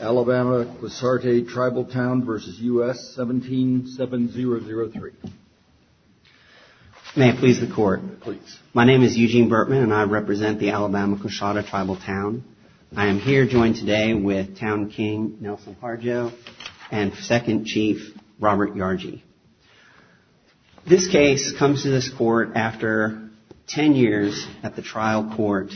Alabama-Quassarte Tribal Town v. U.S. 177003. May it please the Court. Please. My name is Eugene Burtman and I represent the Alabama-Quassarte Tribal Town. I am here joined today with Town King Nelson Harjo and Second Chief Robert Yargy. This case comes to this court after 10 years at the trial court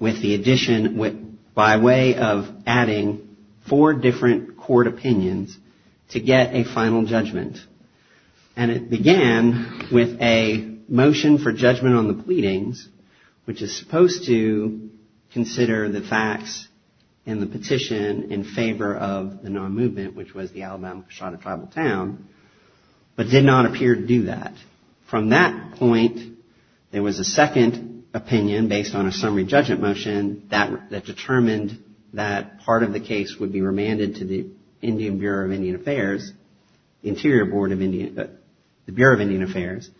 with the addition, by way of adding four different court opinions to get a final judgment. And it began with a motion for judgment on the pleadings, which is supposed to consider the facts in the petition in favor of the non-movement, which was the Alabama-Quassarte Tribal Town, but did not appear to do that. From that point, there was a second opinion based on a summary judgment motion that determined that part of the case would be remanded to the Indian Bureau of Indian Affairs, Interior Board of Indian, the Bureau of Indian Affairs.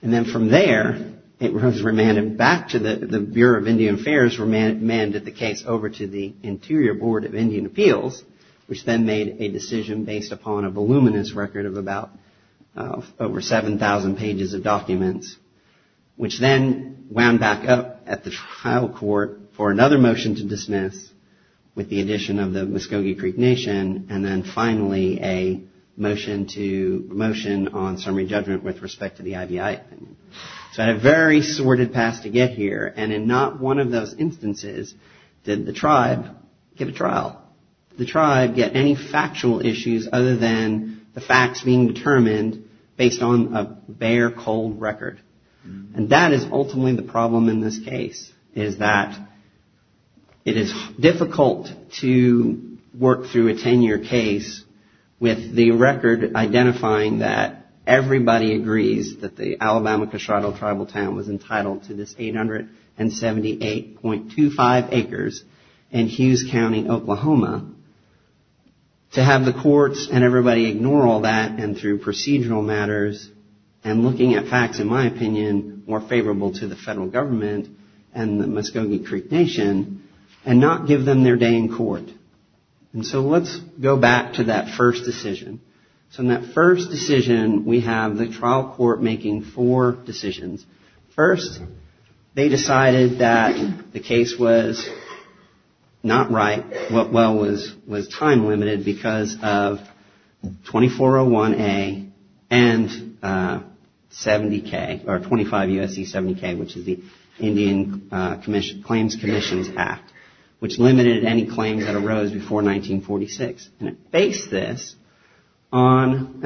And then from there, it was remanded back to the Bureau of Indian Affairs, and from there it was remanded the case over to the Interior Board of Indian Appeals, which then made a decision based upon a voluminous record of about over 7,000 pages of documents, which then wound back up at the trial court for another motion to dismiss with the addition of the Muscogee Creek Nation, and then finally a motion to motion on summary judgment with respect to the IVI. So I had a very sordid pass to get here. And in not one of those instances did the tribe give a trial. The tribe get any factual issues other than the facts being determined based on a bare, cold record. And that is ultimately the problem in this case, is that it is difficult to work through a 10-year case with the record identifying that everybody agrees that the Alabama-Quassarte Tribal Town was entitled to this 878.25 acres in Hughes County, Oklahoma, to have the courts and everybody ignore all that and through procedural matters and looking at facts, in my opinion, more favorable to the federal government and the Muscogee Creek Nation, and not give them their day in court. And so let's go back to that first decision. So in that first decision, we have the trial court making four decisions. First, they decided that the case was not right, well, was time limited, because of 2401A and 70K, or 25 U.S.C. 70K, which is the Indian Claims Commissions Act, which limited any claims that arose before 1946. And it based this on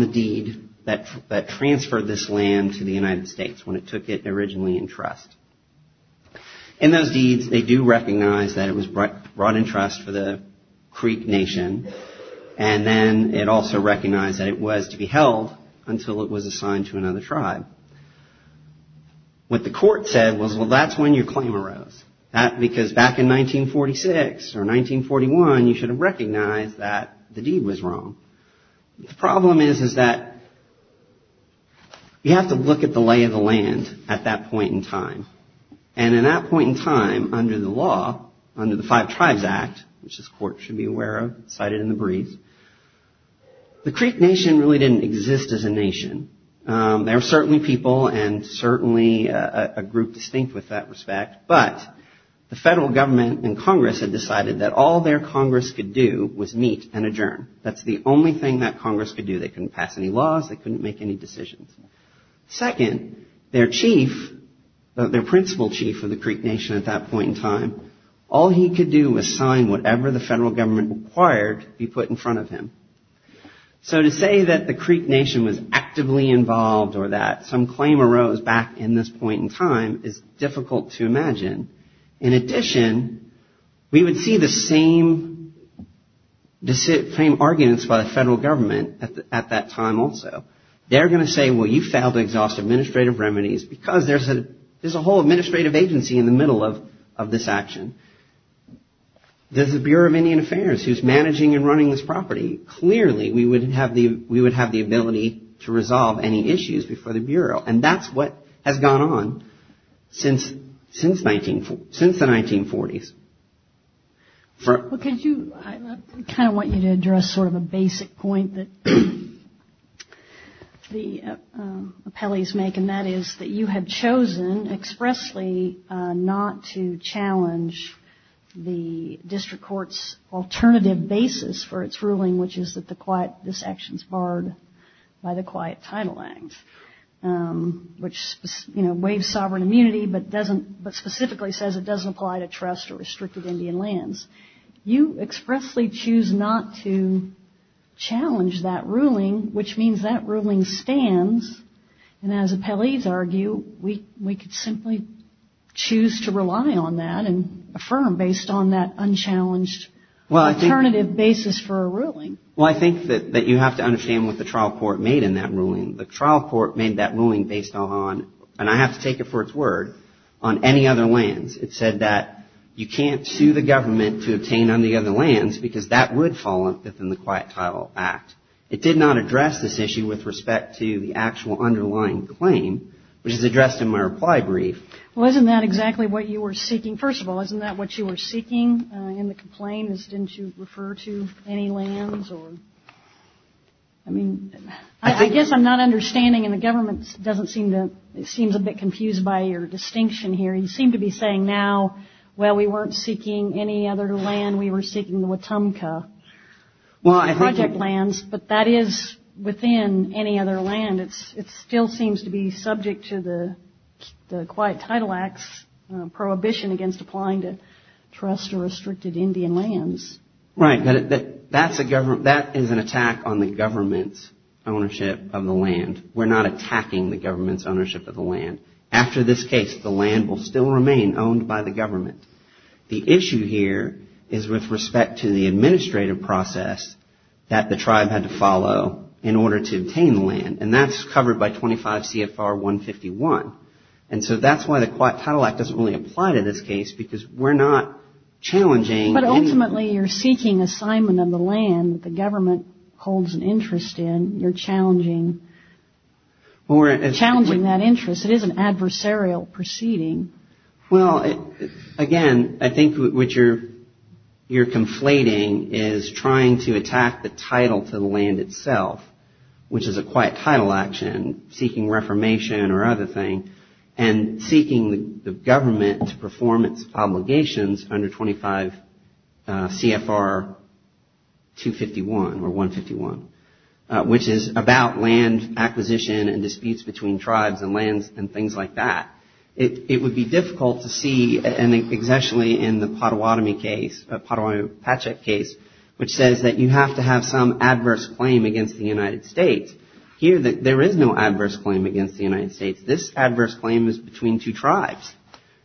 the deed that transferred this land to the United States when it took it originally in trust. In those deeds, they do recognize that it was brought in trust for the Creek Nation, and then it also recognized that it was to be held until it was assigned to another tribe. What the court said was, well, that's when your claim arose. That's because back in 1946 or 1941, you should have recognized that the deed was wrong. The problem is, is that you have to look at the lay of the land at that point in time. And in that point in time, under the law, under the Five Tribes Act, which this court should be aware of, cited in the brief, the Creek Nation really didn't exist as a nation. They were certainly people and certainly a group distinct with that respect. But the federal government and Congress had decided that all their Congress could do was meet and adjourn. That's the only thing that Congress could do. They couldn't pass any laws. They couldn't make any decisions. Second, their chief, their principal chief of the Creek Nation at that point in time, all he could do was sign whatever the federal government required be put in front of him. So to say that the Creek Nation was actively involved or that some claim arose back in this point in time is difficult to imagine. In addition, we would see the same arguments by the federal government at that time also. They're going to say, well, you failed to exhaust administrative remedies because there's a whole administrative agency in the middle of this action. There's the Bureau of Indian Affairs who's managing and running this property. Clearly, we would have the ability to resolve any issues before the Bureau. And that's what has gone on since the 1940s. I kind of want you to address sort of a basic point that the appellees make, and that is that you have chosen expressly not to challenge the district court's alternative basis for its ruling, which is that this action is barred by the quiet title act, which waives sovereign immunity but specifically says it doesn't apply to trust or restricted Indian lands. You expressly choose not to challenge that ruling, which means that ruling stands, and as appellees argue, we could simply choose to rely on that and affirm based on that unchallenged alternative basis for a ruling. Well, I think that you have to understand what the trial court made in that ruling. The trial court made that ruling based on, and I have to take it for its word, on any other lands. It said that you can't sue the government to obtain on the other lands because that would fall within the quiet title act. It did not address this issue with respect to the actual underlying claim, which is addressed in my reply brief. Well, isn't that exactly what you were seeking? First of all, isn't that what you were seeking in the complaint is didn't you refer to any lands or, I mean, I guess I'm not understanding, and the government doesn't seem to, it seems a bit confused by your distinction here. You seem to be saying now, well, we weren't seeking any other land. We were seeking the Wetumpka project lands, but that is within any other land. It still seems to be subject to the quiet title acts prohibition against applying to trust or restricted Indian lands. Right. That is an attack on the government's ownership of the land. We're not attacking the government's ownership of the land. After this case, the land will still remain owned by the government. The issue here is with respect to the administrative process that the tribe had to follow in order to obtain the land, and that's covered by 25 CFR 151. And so that's why the quiet title act doesn't really apply to this case because we're not challenging. But ultimately you're seeking assignment of the land that the government holds an interest in. You're challenging that interest. It is an adversarial proceeding. Well, again, I think what you're conflating is trying to attack the title to the land itself, which is a quiet title action, seeking reformation or other thing, and seeking the government to perform its obligations under 25 CFR 251 or 151, which is about land acquisition and disputes between tribes and lands and things like that. It would be difficult to see an accessionally in the Potawatomi case, Potawatomi-Patchak case, which says that you have to have some adverse claim against the United States. Here there is no adverse claim against the United States. This adverse claim is between two tribes.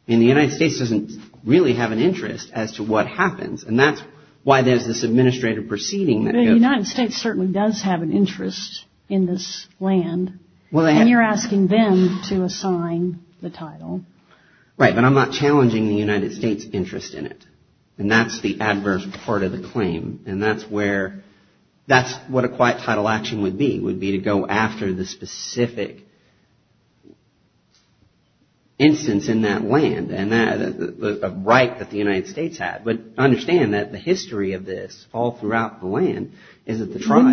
And the United States doesn't really have an interest as to what happens. And that's why there's this administrative proceeding. The United States certainly does have an interest in this land. And you're asking them to assign the title. Right, but I'm not challenging the United States' interest in it. And that's the adverse part of the claim. And that's where – that's what a quiet title action would be, would be to go after the specific instance in that land, a right that the United States had. But understand that the history of this all throughout the land is that the tribe –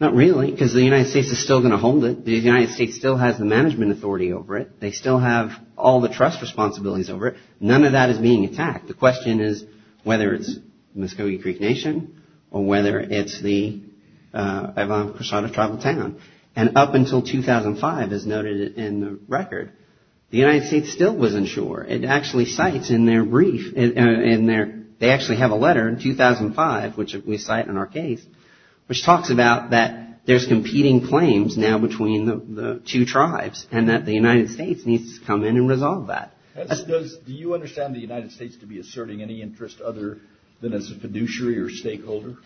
Not really, because the United States is still going to hold it. The United States still has the management authority over it. They still have all the trust responsibilities over it. None of that is being attacked. The question is whether it's Muscogee Creek Nation or whether it's the Ivano-Cruzado tribal town. And up until 2005, as noted in the record, the United States still wasn't sure. It actually cites in their brief – they actually have a letter in 2005, which we cite in our case, which talks about that there's competing claims now between the two tribes and that the United States needs to come in and resolve that. Do you understand the United States to be asserting any interest other than as a fiduciary or stakeholder?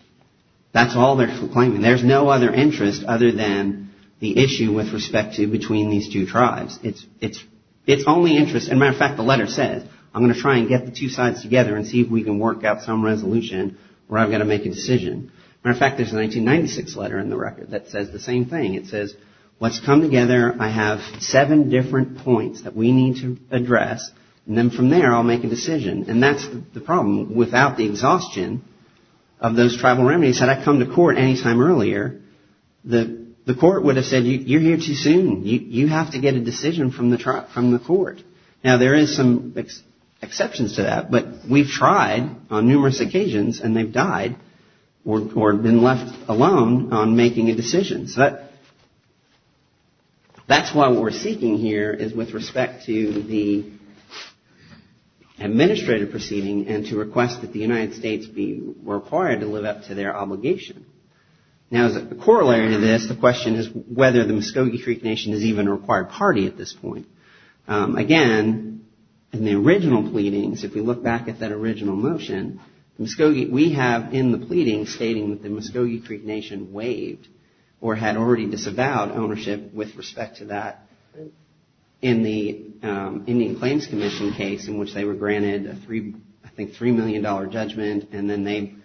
That's all they're claiming. There's no other interest other than the issue with respect to between these two tribes. It's only interest – as a matter of fact, the letter says, I'm going to try and get the two sides together and see if we can work out some resolution where I've got to make a decision. As a matter of fact, there's a 1996 letter in the record that says the same thing. It says, let's come together. I have seven different points that we need to address, and then from there I'll make a decision. And that's the problem. Without the exhaustion of those tribal remedies, had I come to court any time earlier, the court would have said, you're here too soon. You have to get a decision from the court. Now, there is some exceptions to that, but we've tried on numerous occasions, and they've died or been left alone on making a decision. That's why what we're seeking here is with respect to the administrative proceeding and to request that the United States be required to live up to their obligation. Now, as a corollary to this, the question is whether the Muscogee Creek Nation is even a required party at this point. Again, in the original pleadings, if we look back at that original motion, we have in the pleading stating that the Muscogee Creek Nation waived or had already disavowed ownership with respect to that. In the Indian Claims Commission case in which they were granted a $3 million judgment, and then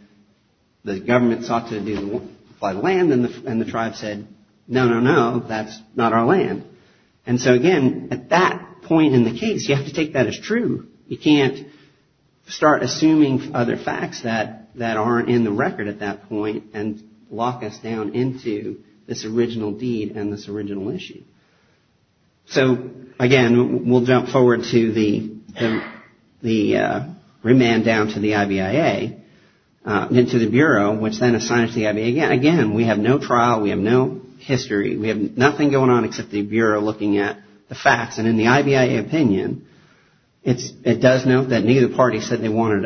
the government sought to apply the land, and the tribe said, no, no, no, that's not our land. And so, again, at that point in the case, you have to take that as true. You can't start assuming other facts that aren't in the record at that point and lock us down into this original deed and this original issue. So, again, we'll jump forward to the remand down to the IBIA, into the Bureau, which then assigns the IBIA. Again, we have no trial. We have no history. We have nothing going on except the Bureau looking at the facts. And in the IBIA opinion, it does note that neither party said they wanted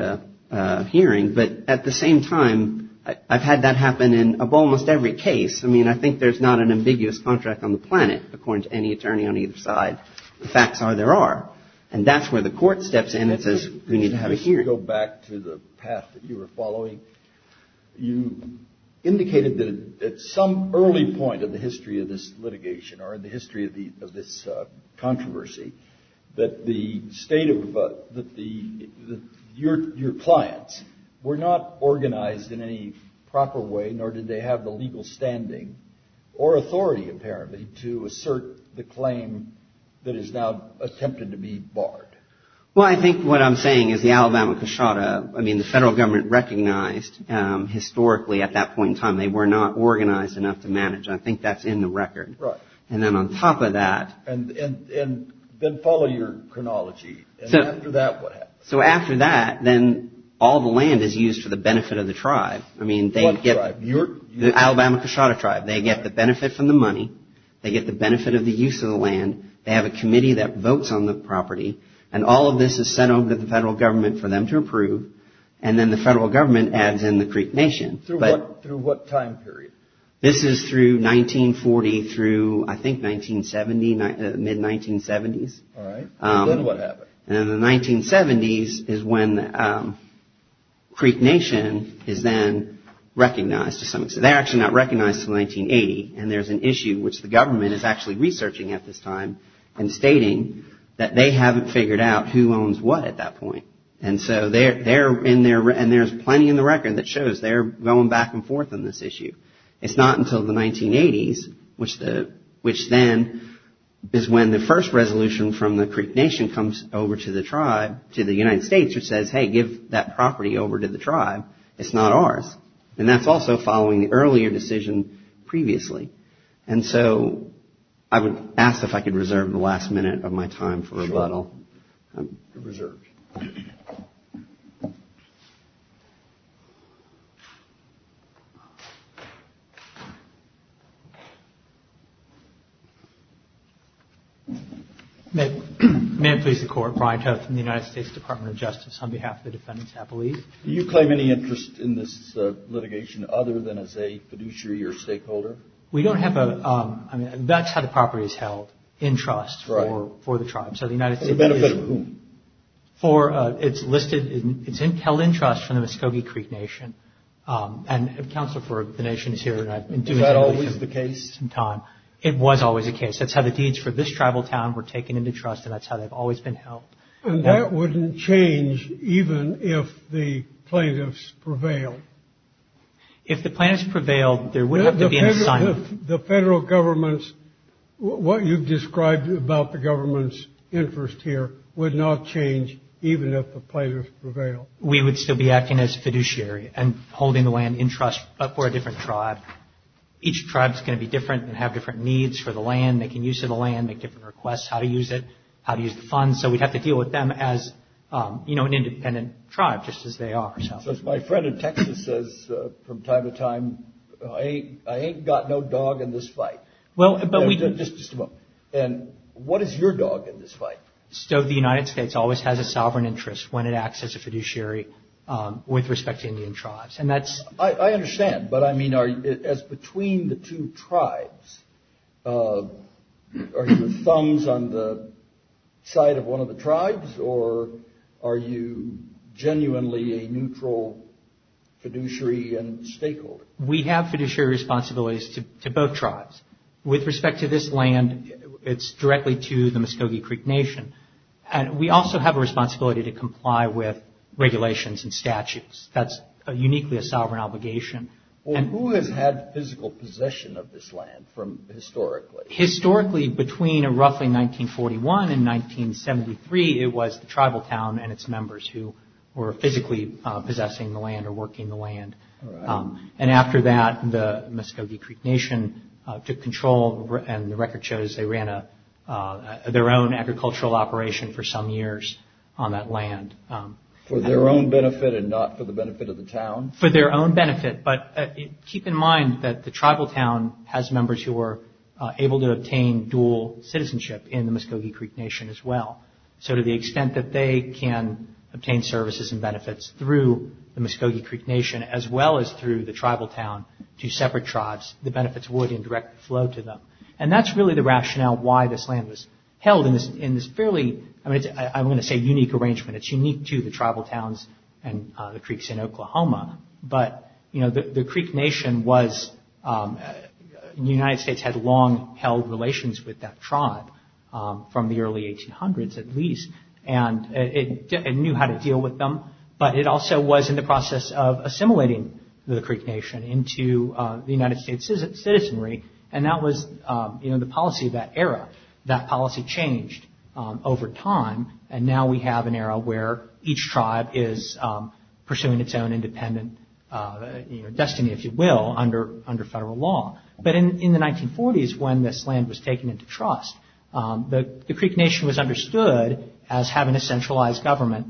a hearing. But at the same time, I've had that happen in almost every case. I mean, I think there's not an ambiguous contract on the planet, according to any attorney on either side. The facts are there are. And that's where the court steps in and says we need to have a hearing. Let's go back to the path that you were following. You indicated that at some early point in the history of this litigation or in the history of this controversy, that the state of your clients were not organized in any proper way, nor did they have the legal standing or authority, apparently, to assert the claim that is now attempted to be barred. Well, I think what I'm saying is the Alabama cushota, I mean, the federal government recognized historically at that point in time they were not organized enough to manage. I think that's in the record. And then on top of that. And then follow your chronology. So after that, what happened? So after that, then all the land is used for the benefit of the tribe. I mean, they get the Alabama cushota tribe. They get the benefit from the money. They get the benefit of the use of the land. They have a committee that votes on the property. And all of this is sent over to the federal government for them to approve. And then the federal government adds in the Creek Nation. Through what time period? This is through 1940 through, I think, 1970, mid-1970s. All right. And then what happened? And then the 1970s is when Creek Nation is then recognized. They're actually not recognized until 1980. And there's an issue which the government is actually researching at this time and stating that they haven't figured out who owns what at that point. And there's plenty in the record that shows they're going back and forth on this issue. It's not until the 1980s, which then is when the first resolution from the Creek Nation comes over to the tribe, to the United States, which says, hey, give that property over to the tribe. It's not ours. And that's also following the earlier decision previously. And so I would ask if I could reserve the last minute of my time for rebuttal. You're reserved. May it please the Court. Brian Toth from the United States Department of Justice on behalf of the defendants, I believe. Do you claim any interest in this litigation other than as a fiduciary or stakeholder? We don't have a... I mean, that's how the property is held, in trust for the tribe. So the United States... For the benefit of whom? For... It's listed... It's held in trust from the Muscogee Creek Nation. And Counsel for the Nation is here. Is that always the case? It was always the case. That's how the deeds for this tribal town were taken into trust, and that's how they've always been held. And that wouldn't change even if the plaintiffs prevailed? If the plaintiffs prevailed, there would have to be an assignment. The federal government's... What you've described about the government's interest here would not change even if the plaintiffs prevailed. We would still be acting as fiduciary and holding the land in trust for a different tribe. Each tribe is going to be different and have different needs for the land, making use of the land, make different requests, how to use it, how to use the funds. So we'd have to deal with them as, you know, an independent tribe, just as they are. So as my friend in Texas says from time to time, I ain't got no dog in this fight. Well, but we... Just a moment. And what is your dog in this fight? So the United States always has a sovereign interest when it acts as a fiduciary with respect to Indian tribes. And that's... I understand. But, I mean, as between the two tribes, are your thumbs on the side of one of the tribes, or are you genuinely a neutral fiduciary and stakeholder? We have fiduciary responsibilities to both tribes. With respect to this land, it's directly to the Muscogee Creek Nation. And we also have a responsibility to comply with regulations and statutes. That's uniquely a sovereign obligation. Well, who has had physical possession of this land from historically? Historically, between roughly 1941 and 1973, it was the tribal town and its members who were physically possessing the land or working the land. And after that, the Muscogee Creek Nation took control, and the record shows they ran their own agricultural operation for some years on that land. For their own benefit and not for the benefit of the town? For their own benefit. But keep in mind that the tribal town has members who are able to obtain dual citizenship in the Muscogee Creek Nation as well. So to the extent that they can obtain services and benefits through the Muscogee Creek Nation, as well as through the tribal town to separate tribes, the benefits would in direct flow to them. And that's really the rationale why this land was held in this fairly... I'm going to say unique arrangement. It's unique to the tribal towns and the creeks in Oklahoma. But the Creek Nation was... The United States had long held relations with that tribe from the early 1800s at least. And it knew how to deal with them. But it also was in the process of assimilating the Creek Nation into the United States' citizenry. And that was the policy of that era. That policy changed over time. And now we have an era where each tribe is pursuing its own independent destiny, if you will, under federal law. But in the 1940s when this land was taken into trust, the Creek Nation was understood as having a centralized government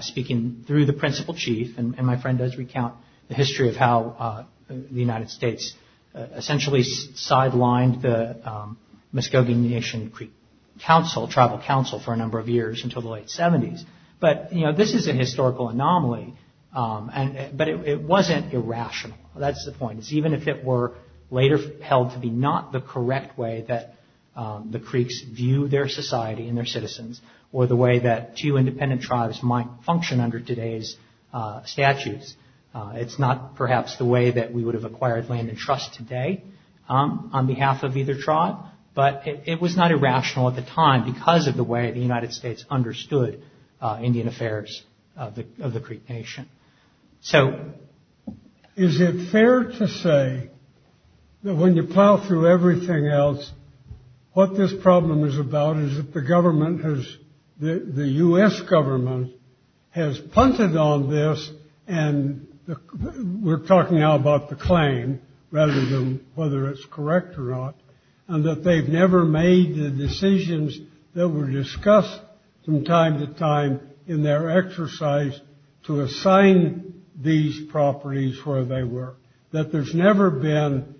speaking through the principal chief. And my friend does recount the history of how the United States essentially sidelined the Muscogee Nation Creek Council, tribal council, for a number of years until the late 70s. But this is a historical anomaly. But it wasn't irrational. That's the point. Even if it were later held to be not the correct way that the creeks view their society and their citizens, or the way that two independent tribes might function under today's statutes, it's not perhaps the way that we would have acquired land and trust today on behalf of either tribe. But it was not irrational at the time because of the way the United States understood Indian affairs of the Creek Nation. So is it fair to say that when you plow through everything else, what this problem is about is that the government has, the U.S. government, has punted on this, and we're talking now about the claim rather than whether it's correct or not, and that they've never made the decisions that were discussed from time to time in their exercise to assign these properties where they were, that there's never been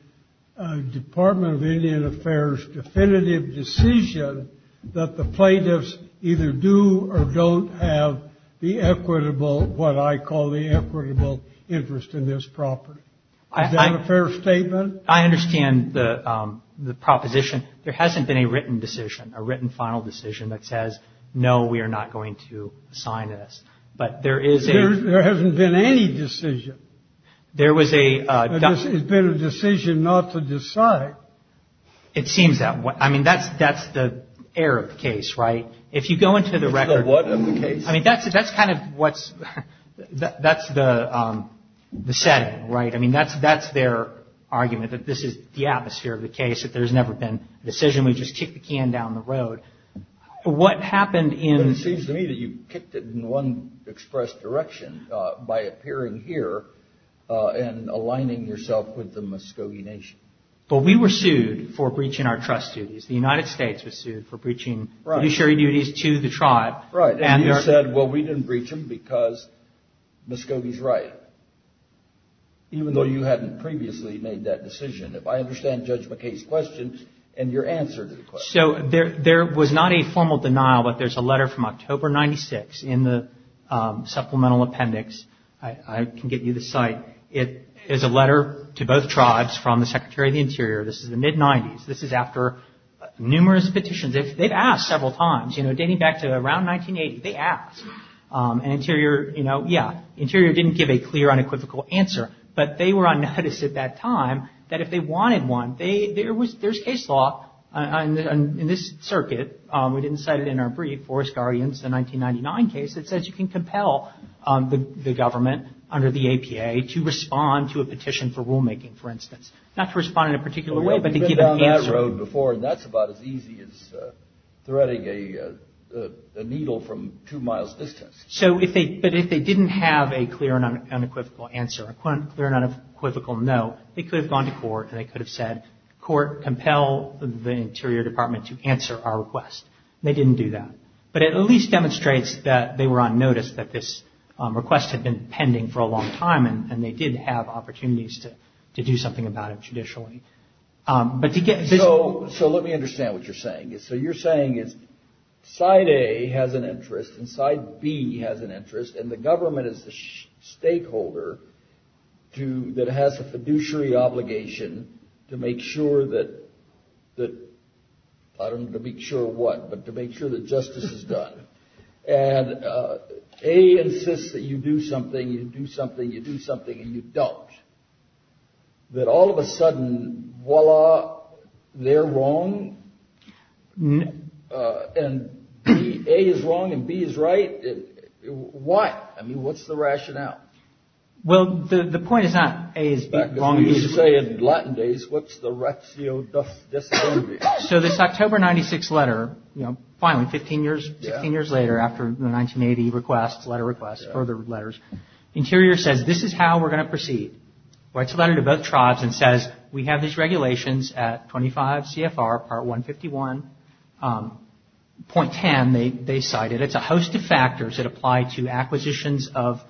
a Department of Indian Affairs definitive decision that the plaintiffs either do or don't have the equitable, what I call the equitable, interest in this property? Is that a fair statement? I understand the proposition. There hasn't been a written decision, a written final decision that says, no, we are not going to assign this. But there is a- There hasn't been any decision. There was a- It's been a decision not to decide. It seems that way. I mean, that's the Arab case, right? If you go into the record- It's the what of the case. I mean, that's kind of what's, that's the setting, right? I mean, that's their argument, that this is the atmosphere of the case, that there's never been a decision. We just kicked the can down the road. What happened in- It seems to me that you kicked it in one express direction by appearing here and aligning yourself with the Muscogee Nation. But we were sued for breaching our trust duties. The United States was sued for breaching judiciary duties to the tribe. Right, and you said, well, we didn't breach them because Muscogee's right. Even though you hadn't previously made that decision. If I understand Judge McKay's questions and your answer to the question- So, there was not a formal denial, but there's a letter from October 96 in the supplemental appendix. I can get you the site. It is a letter to both tribes from the Secretary of the Interior. This is the mid-90s. This is after numerous petitions. They've asked several times, you know, dating back to around 1980. They asked. And Interior, you know, yeah, Interior didn't give a clear, unequivocal answer. But they were on notice at that time that if they wanted one, there's case law in this circuit. We didn't cite it in our brief, Forest Guardians, the 1999 case. It says you can compel the government under the APA to respond to a petition for rulemaking, for instance. Not to respond in a particular way, but to give an answer. And that's about as easy as threading a needle from two miles distance. So, but if they didn't have a clear and unequivocal answer, a clear and unequivocal no, they could have gone to court and they could have said, court, compel the Interior Department to answer our request. They didn't do that. But it at least demonstrates that they were on notice that this request had been pending for a long time and they did have opportunities to do something about it judicially. So let me understand what you're saying. So you're saying is side A has an interest and side B has an interest, and the government is the stakeholder that has a fiduciary obligation to make sure that, I don't want to make sure what, but to make sure that justice is done. And A insists that you do something, you do something, you do something, and you don't. That all of a sudden, voila, they're wrong, and A is wrong and B is right. Why? I mean, what's the rationale? Well, the point is not A is wrong. You say in Latin days, what's the ratio? So this October 96 letter, you know, finally, 15 years, 16 years later, after the 1980 requests, letter requests, further letters, Interior says, this is how we're going to proceed. Writes a letter to both tribes and says, we have these regulations at 25 CFR part 151.10, they cited. It's a host of factors that apply to acquisitions of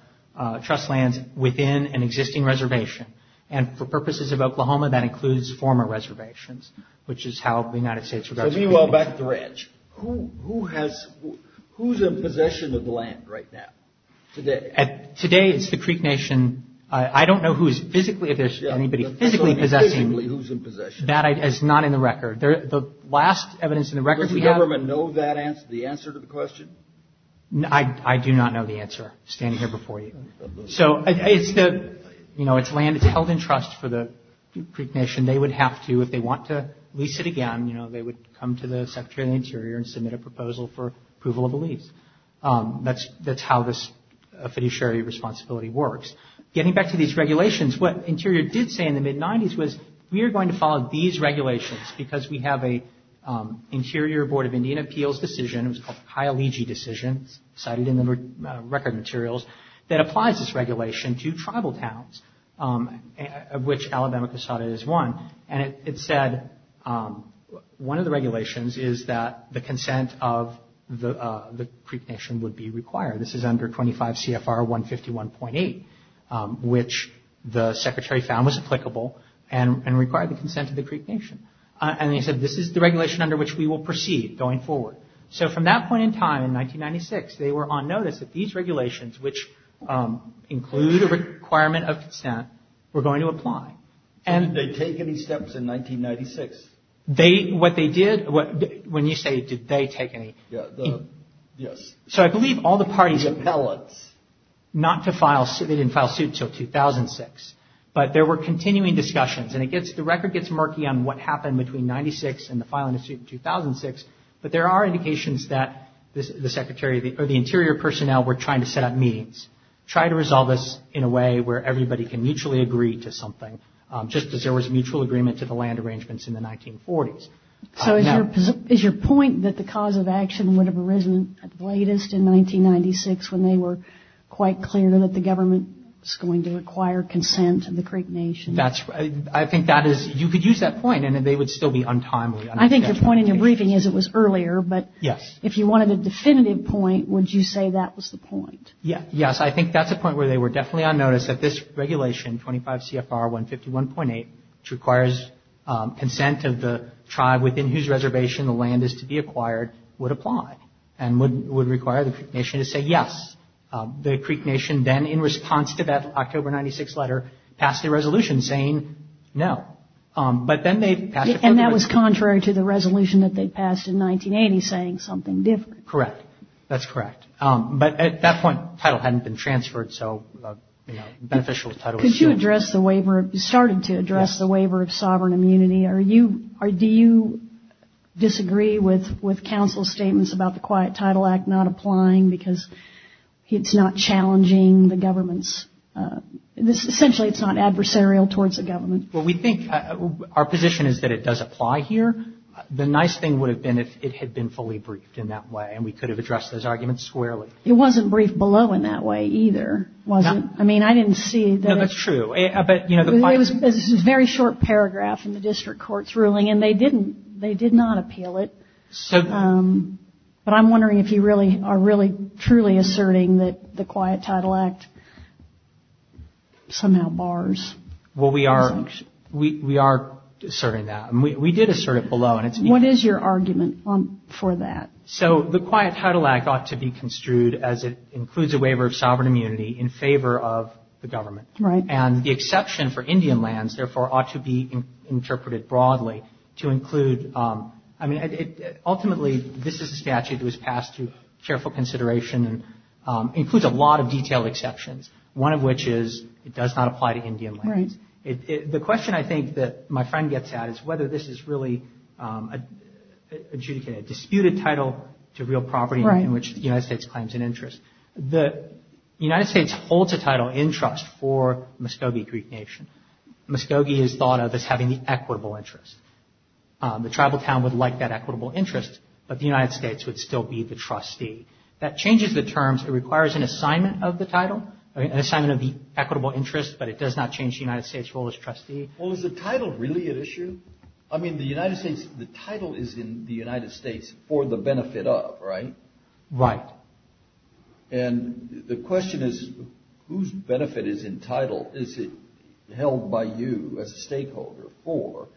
trust lands within an existing reservation. And for purposes of Oklahoma, that includes former reservations, which is how the United States regards. Meanwhile, back to the ranch, who has, who's in possession of the land right now, today? Today, it's the Creek Nation. I don't know who's physically, if there's anybody physically possessing. Physically, who's in possession? That is not in the record. The last evidence in the record we have. Does the government know that answer, the answer to the question? I do not know the answer, standing here before you. So it's the, you know, it's land that's held in trust for the Creek Nation. They would have to, if they want to lease it again, you know, they would come to the Secretary of the Interior and submit a proposal for approval of a lease. That's how this fiduciary responsibility works. Getting back to these regulations, what Interior did say in the mid-90s was, we are going to follow these regulations because we have an Interior Board of Indian Appeals decision, it was called the Kyaliji decision, cited in the record materials, that applies this regulation to tribal towns, of which Alabama-Cusata is one. And it said, one of the regulations is that the consent of the Creek Nation would be required. This is under 25 CFR 151.8, which the Secretary found was applicable and required the consent of the Creek Nation. And they said, this is the regulation under which we will proceed going forward. So from that point in time, in 1996, they were on notice that these regulations, which include a requirement of consent, were going to apply. And... Did they take any steps in 1996? They, what they did, when you say, did they take any... So I believe all the parties... The appellates. Not to file, they didn't file suit until 2006. But there were continuing discussions. And it gets, the record gets murky on what happened between 96 and the filing of suit in 2006. But there are indications that the Secretary or the Interior personnel were trying to set up meetings, try to resolve this in a way where everybody can mutually agree to something, just as there was mutual agreement to the land arrangements in the 1940s. So is your point that the cause of action would have arisen at the latest in 1996 when they were quite clear that the government was going to require consent of the Creek Nation? That's... I think that is... You could use that point and they would still be untimely. I think your point in your briefing is it was earlier, but... Yes. If you wanted a definitive point, would you say that was the point? Yes. Yes, I think that's a point where they were definitely on notice that this regulation, 25 CFR 151.8, which requires consent of the tribe within whose reservation the land is to be acquired, would apply. And would require the Creek Nation to say yes. The Creek Nation then, in response to that October 96 letter, passed a resolution saying no. But then they passed... And that was contrary to the resolution that they passed in 1980 saying something different. Correct. That's correct. But at that point, title hadn't been transferred, so, you know, beneficial title... Could you address the waiver? You started to address the waiver of sovereign immunity. Do you disagree with counsel's statements about the Quiet Title Act not applying because it's not challenging the government's... Essentially, it's not adversarial towards the government. Well, we think our position is that it does apply here. The nice thing would have been if it had been fully briefed in that way and we could have addressed those arguments squarely. It wasn't briefed below in that way either. No. I mean, I didn't see that... No, that's true. But, you know, the Quiet... It was a very short paragraph in the district court's ruling, and they didn't, they did not appeal it. So... But I'm wondering if you really are really truly asserting that the Quiet Title Act somehow bars... Well, we are asserting that. We did assert it below, and it's... What is your argument for that? So the Quiet Title Act ought to be construed as it includes a waiver of sovereign immunity in favor of the government. Right. And the exception for Indian lands, therefore, ought to be interpreted broadly to include... I mean, ultimately, this is a statute that was passed through careful consideration and includes a lot of detailed exceptions, one of which is it does not apply to Indian lands. Right. The question, I think, that my friend gets at is whether this is really adjudicating a disputed title to real property... Right. ...in which the United States claims an interest. The United States holds a title in trust for Muscogee Greek Nation. Muscogee is thought of as having the equitable interest. The tribal town would like that equitable interest, but the United States would still be the trustee. That changes the terms. It requires an assignment of the title, an assignment of the equitable interest, but it does not change the United States' role as trustee. Well, is the title really at issue? I mean, the United States, the title is in the United States for the benefit of, right? Right. And the question is, whose benefit is in title? Is it held by you as a stakeholder for?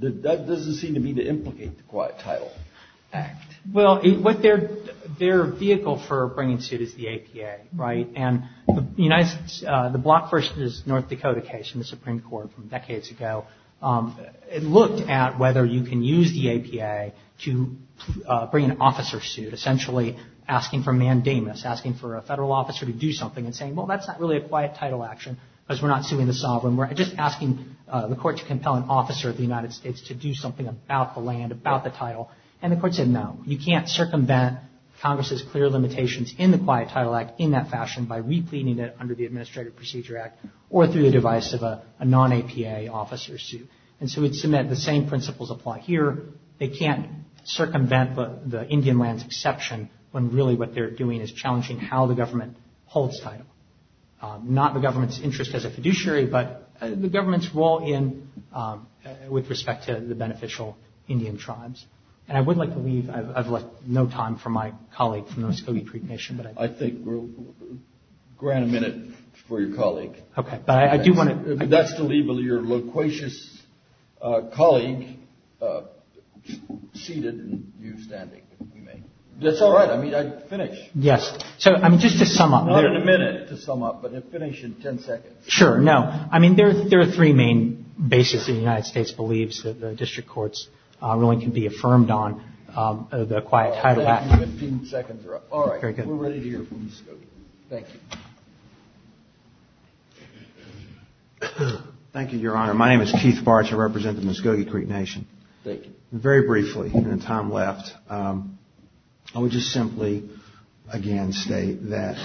That doesn't seem to me to implicate the Quiet Title Act. Well, their vehicle for bringing suit is the APA, right? And the Block First is North Dakota case in the Supreme Court from decades ago. It looked at whether you can use the APA to bring an officer suit, essentially asking for mandamus, asking for a federal officer to do something and saying, well, that's not really a quiet title action because we're not suing the sovereign. We're just asking the court to compel an officer of the United States to do something about the land, about the title. And the court said, no, you can't circumvent Congress's clear limitations in the Quiet Title Act in that fashion by repleting it under the Administrative Procedure Act or through the device of a non-APA officer suit. And so we'd submit the same principles apply here. They can't circumvent the Indian lands exception when really what they're doing is challenging how the government holds title. Not the government's interest as a fiduciary, but the government's role with respect to the beneficial Indian tribes. And I would like to leave. I've left no time for my colleague from the Muscogee Creek Nation. I think we'll grant a minute for your colleague. Okay, but I do want to. That's to leave your loquacious colleague seated and you standing, if you may. That's all right. I mean, finish. Yes. So, I mean, just to sum up. Not in a minute to sum up, but finish in 10 seconds. Sure, no. I mean, there are three main bases the United States believes that the district courts really can be affirmed on the Quiet Title Act. 15 seconds are up. All right. We're ready to hear from Muscogee. Thank you. Thank you, Your Honor. My name is Keith Bartsch. I represent the Muscogee Creek Nation. Thank you. Very briefly, in the time left, I would just simply again state that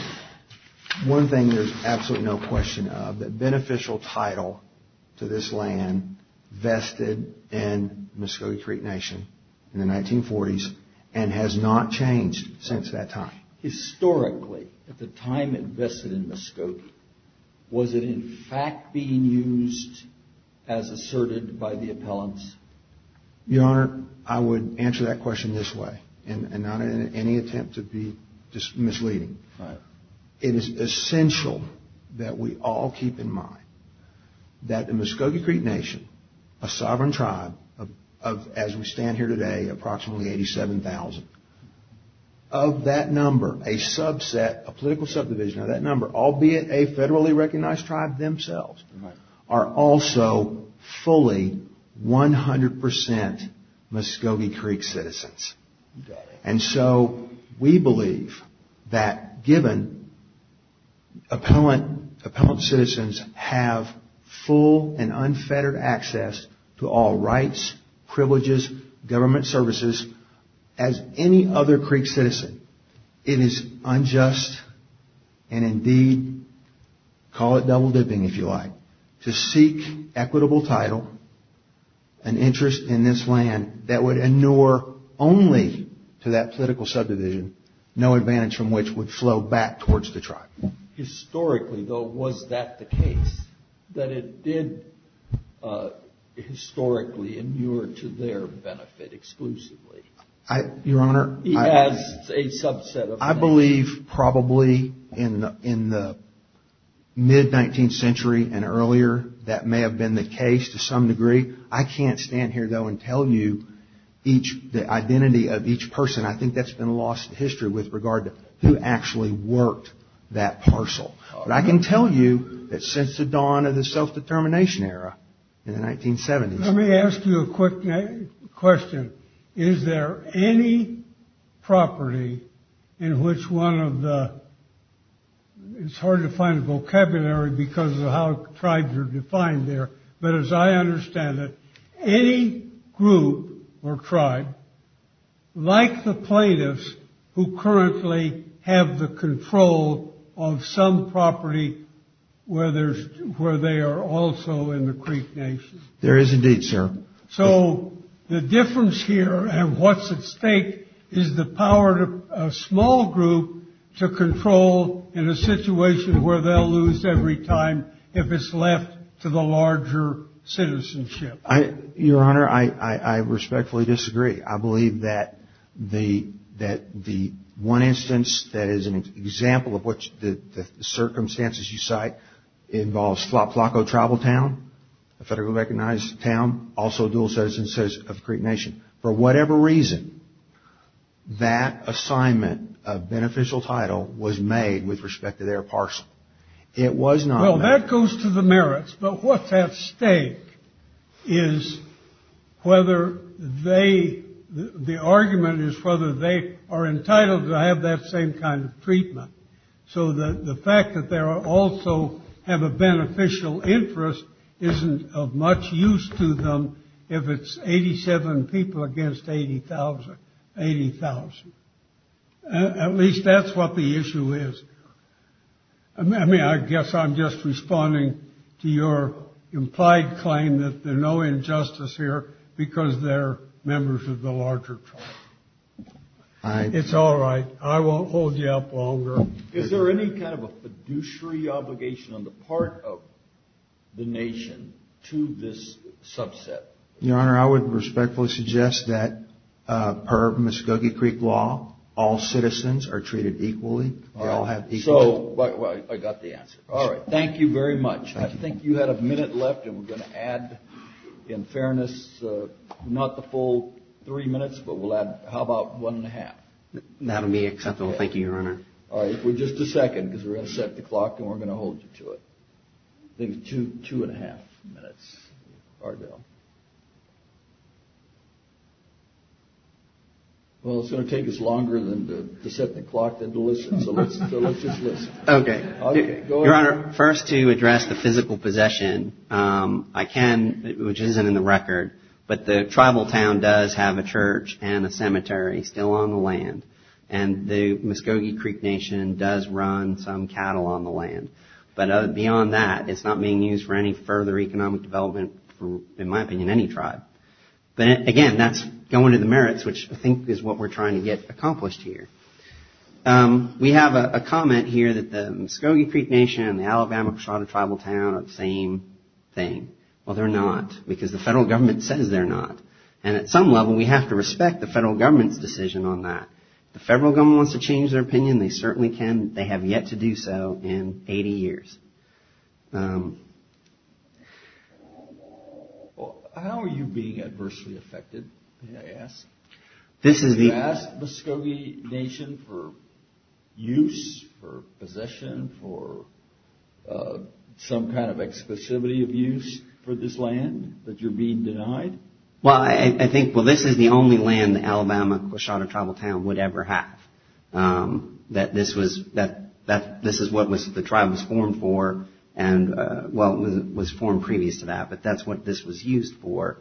one thing there's absolutely no question of, that beneficial title to this land vested in Muscogee Creek Nation in the 1940s and has not changed since that time. Historically, at the time it vested in Muscogee, was it in fact being used as asserted by the appellants? Your Honor, I would answer that question this way and not in any attempt to be misleading. It is essential that we all keep in mind that the Muscogee Creek Nation, a sovereign tribe of, as we stand here today, approximately 87,000, of that number, a subset, a political subdivision of that number, albeit a federally recognized tribe themselves, are also fully 100% Muscogee Creek citizens. And so we believe that given appellant citizens have full and unfettered access to all rights, privileges, government services, as any other Creek citizen, it is unjust and indeed, call it double dipping if you like, to seek equitable title and interest in this land that would inure only to that political subdivision, no advantage from which would flow back towards the tribe. Historically, though, was that the case, that it did historically inure to their benefit exclusively? Your Honor, I believe probably in the mid-19th century and earlier that may have been the case to some degree. I can't stand here, though, and tell you the identity of each person. I think that's been lost in history with regard to who actually worked that parcel. But I can tell you that since the dawn of the self-determination era in the 1970s. Let me ask you a quick question. Is there any property in which one of the, it's hard to find a vocabulary because of how tribes are defined there, but as I understand it, any group or tribe, like the plaintiffs who currently have the control of some property where they are also in the Creek Nation. There is indeed, sir. So the difference here and what's at stake is the power of a small group to control in a situation where they'll lose every time if it's left to the larger citizenship. Your Honor, I respectfully disagree. I believe that the one instance that is an example of which the circumstances you cite involves Flacco tribal town, a federally recognized town, also a dual citizen of the Creek Nation. For whatever reason, that assignment of beneficial title was made with respect to their parcel. It was not. Well, that goes to the merits. But what's at stake is whether they, the argument is whether they are entitled to have that same kind of treatment. So the fact that they also have a beneficial interest isn't of much use to them if it's 87 people against 80,000. At least that's what the issue is. I mean, I guess I'm just responding to your implied claim that there's no injustice here because they're members of the larger tribe. It's all right. I won't hold you up longer. Is there any kind of a fiduciary obligation on the part of the nation to this subset? Your Honor, I would respectfully suggest that per Muskogee Creek law, all citizens are treated equally. So I got the answer. All right. Thank you very much. I think you had a minute left, and we're going to add, in fairness, not the full three minutes, but we'll add, how about one and a half? That would be acceptable. Thank you, Your Honor. All right. Just a second because we're going to set the clock, and we're going to hold you to it. I think it's two and a half minutes or so. Well, it's going to take us longer to set the clock than to listen, so let's just listen. Okay. Your Honor, first to address the physical possession, I can, which isn't in the record, but the tribal town does have a church and a cemetery still on the land, and the Muskogee Creek Nation does run some cattle on the land. But beyond that, it's not being used for any further economic development for, in my opinion, any tribe. But again, that's going to the merits, which I think is what we're trying to get accomplished here. We have a comment here that the Muskogee Creek Nation and the Alabama Preschoda Tribal Town are the same thing. Well, they're not because the federal government says they're not. And at some level, we have to respect the federal government's decision on that. If the federal government wants to change their opinion, they certainly can. They have yet to do so in 80 years. How are you being adversely affected, may I ask? Do you ask the Muskogee Nation for use, for possession, for some kind of exclusivity of use for this land that you're being denied? Well, I think, well, this is the only land the Alabama Preschoda Tribal Town would ever have. This is what the tribe was formed for, well, it was formed previous to that, but that's what this was used for.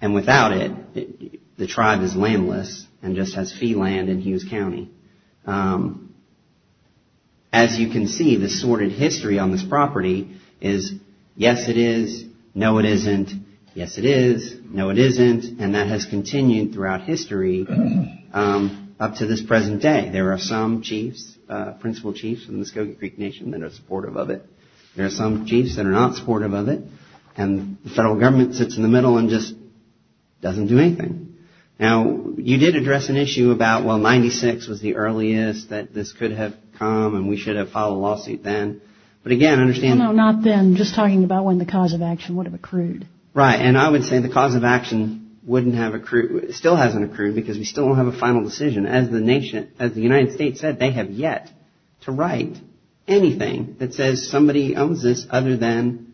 And without it, the tribe is landless and just has fee land in Hughes County. As you can see, the sordid history on this property is, yes, it is, no, it isn't, yes, it is, no, it isn't. And that has continued throughout history up to this present day. There are some chiefs, principal chiefs in the Muskogee Creek Nation that are supportive of it. There are some chiefs that are not supportive of it. And the federal government sits in the middle and just doesn't do anything. Now, you did address an issue about, well, 96 was the earliest that this could have come and we should have filed a lawsuit then. But again, understand. Not then, just talking about when the cause of action would have accrued. Right. And I would say the cause of action wouldn't have accrued, still hasn't accrued because we still don't have a final decision. As the nation, as the United States said, they have yet to write anything that says somebody owns this other than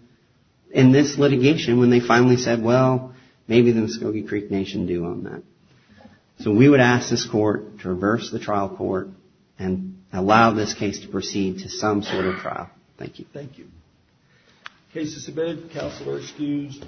in this litigation when they finally said, well, maybe the Muskogee Creek Nation do own that. So we would ask this court to reverse the trial court and allow this case to proceed to some sort of trial. Thank you. Thank you. Case is submitted. Counsel are excused.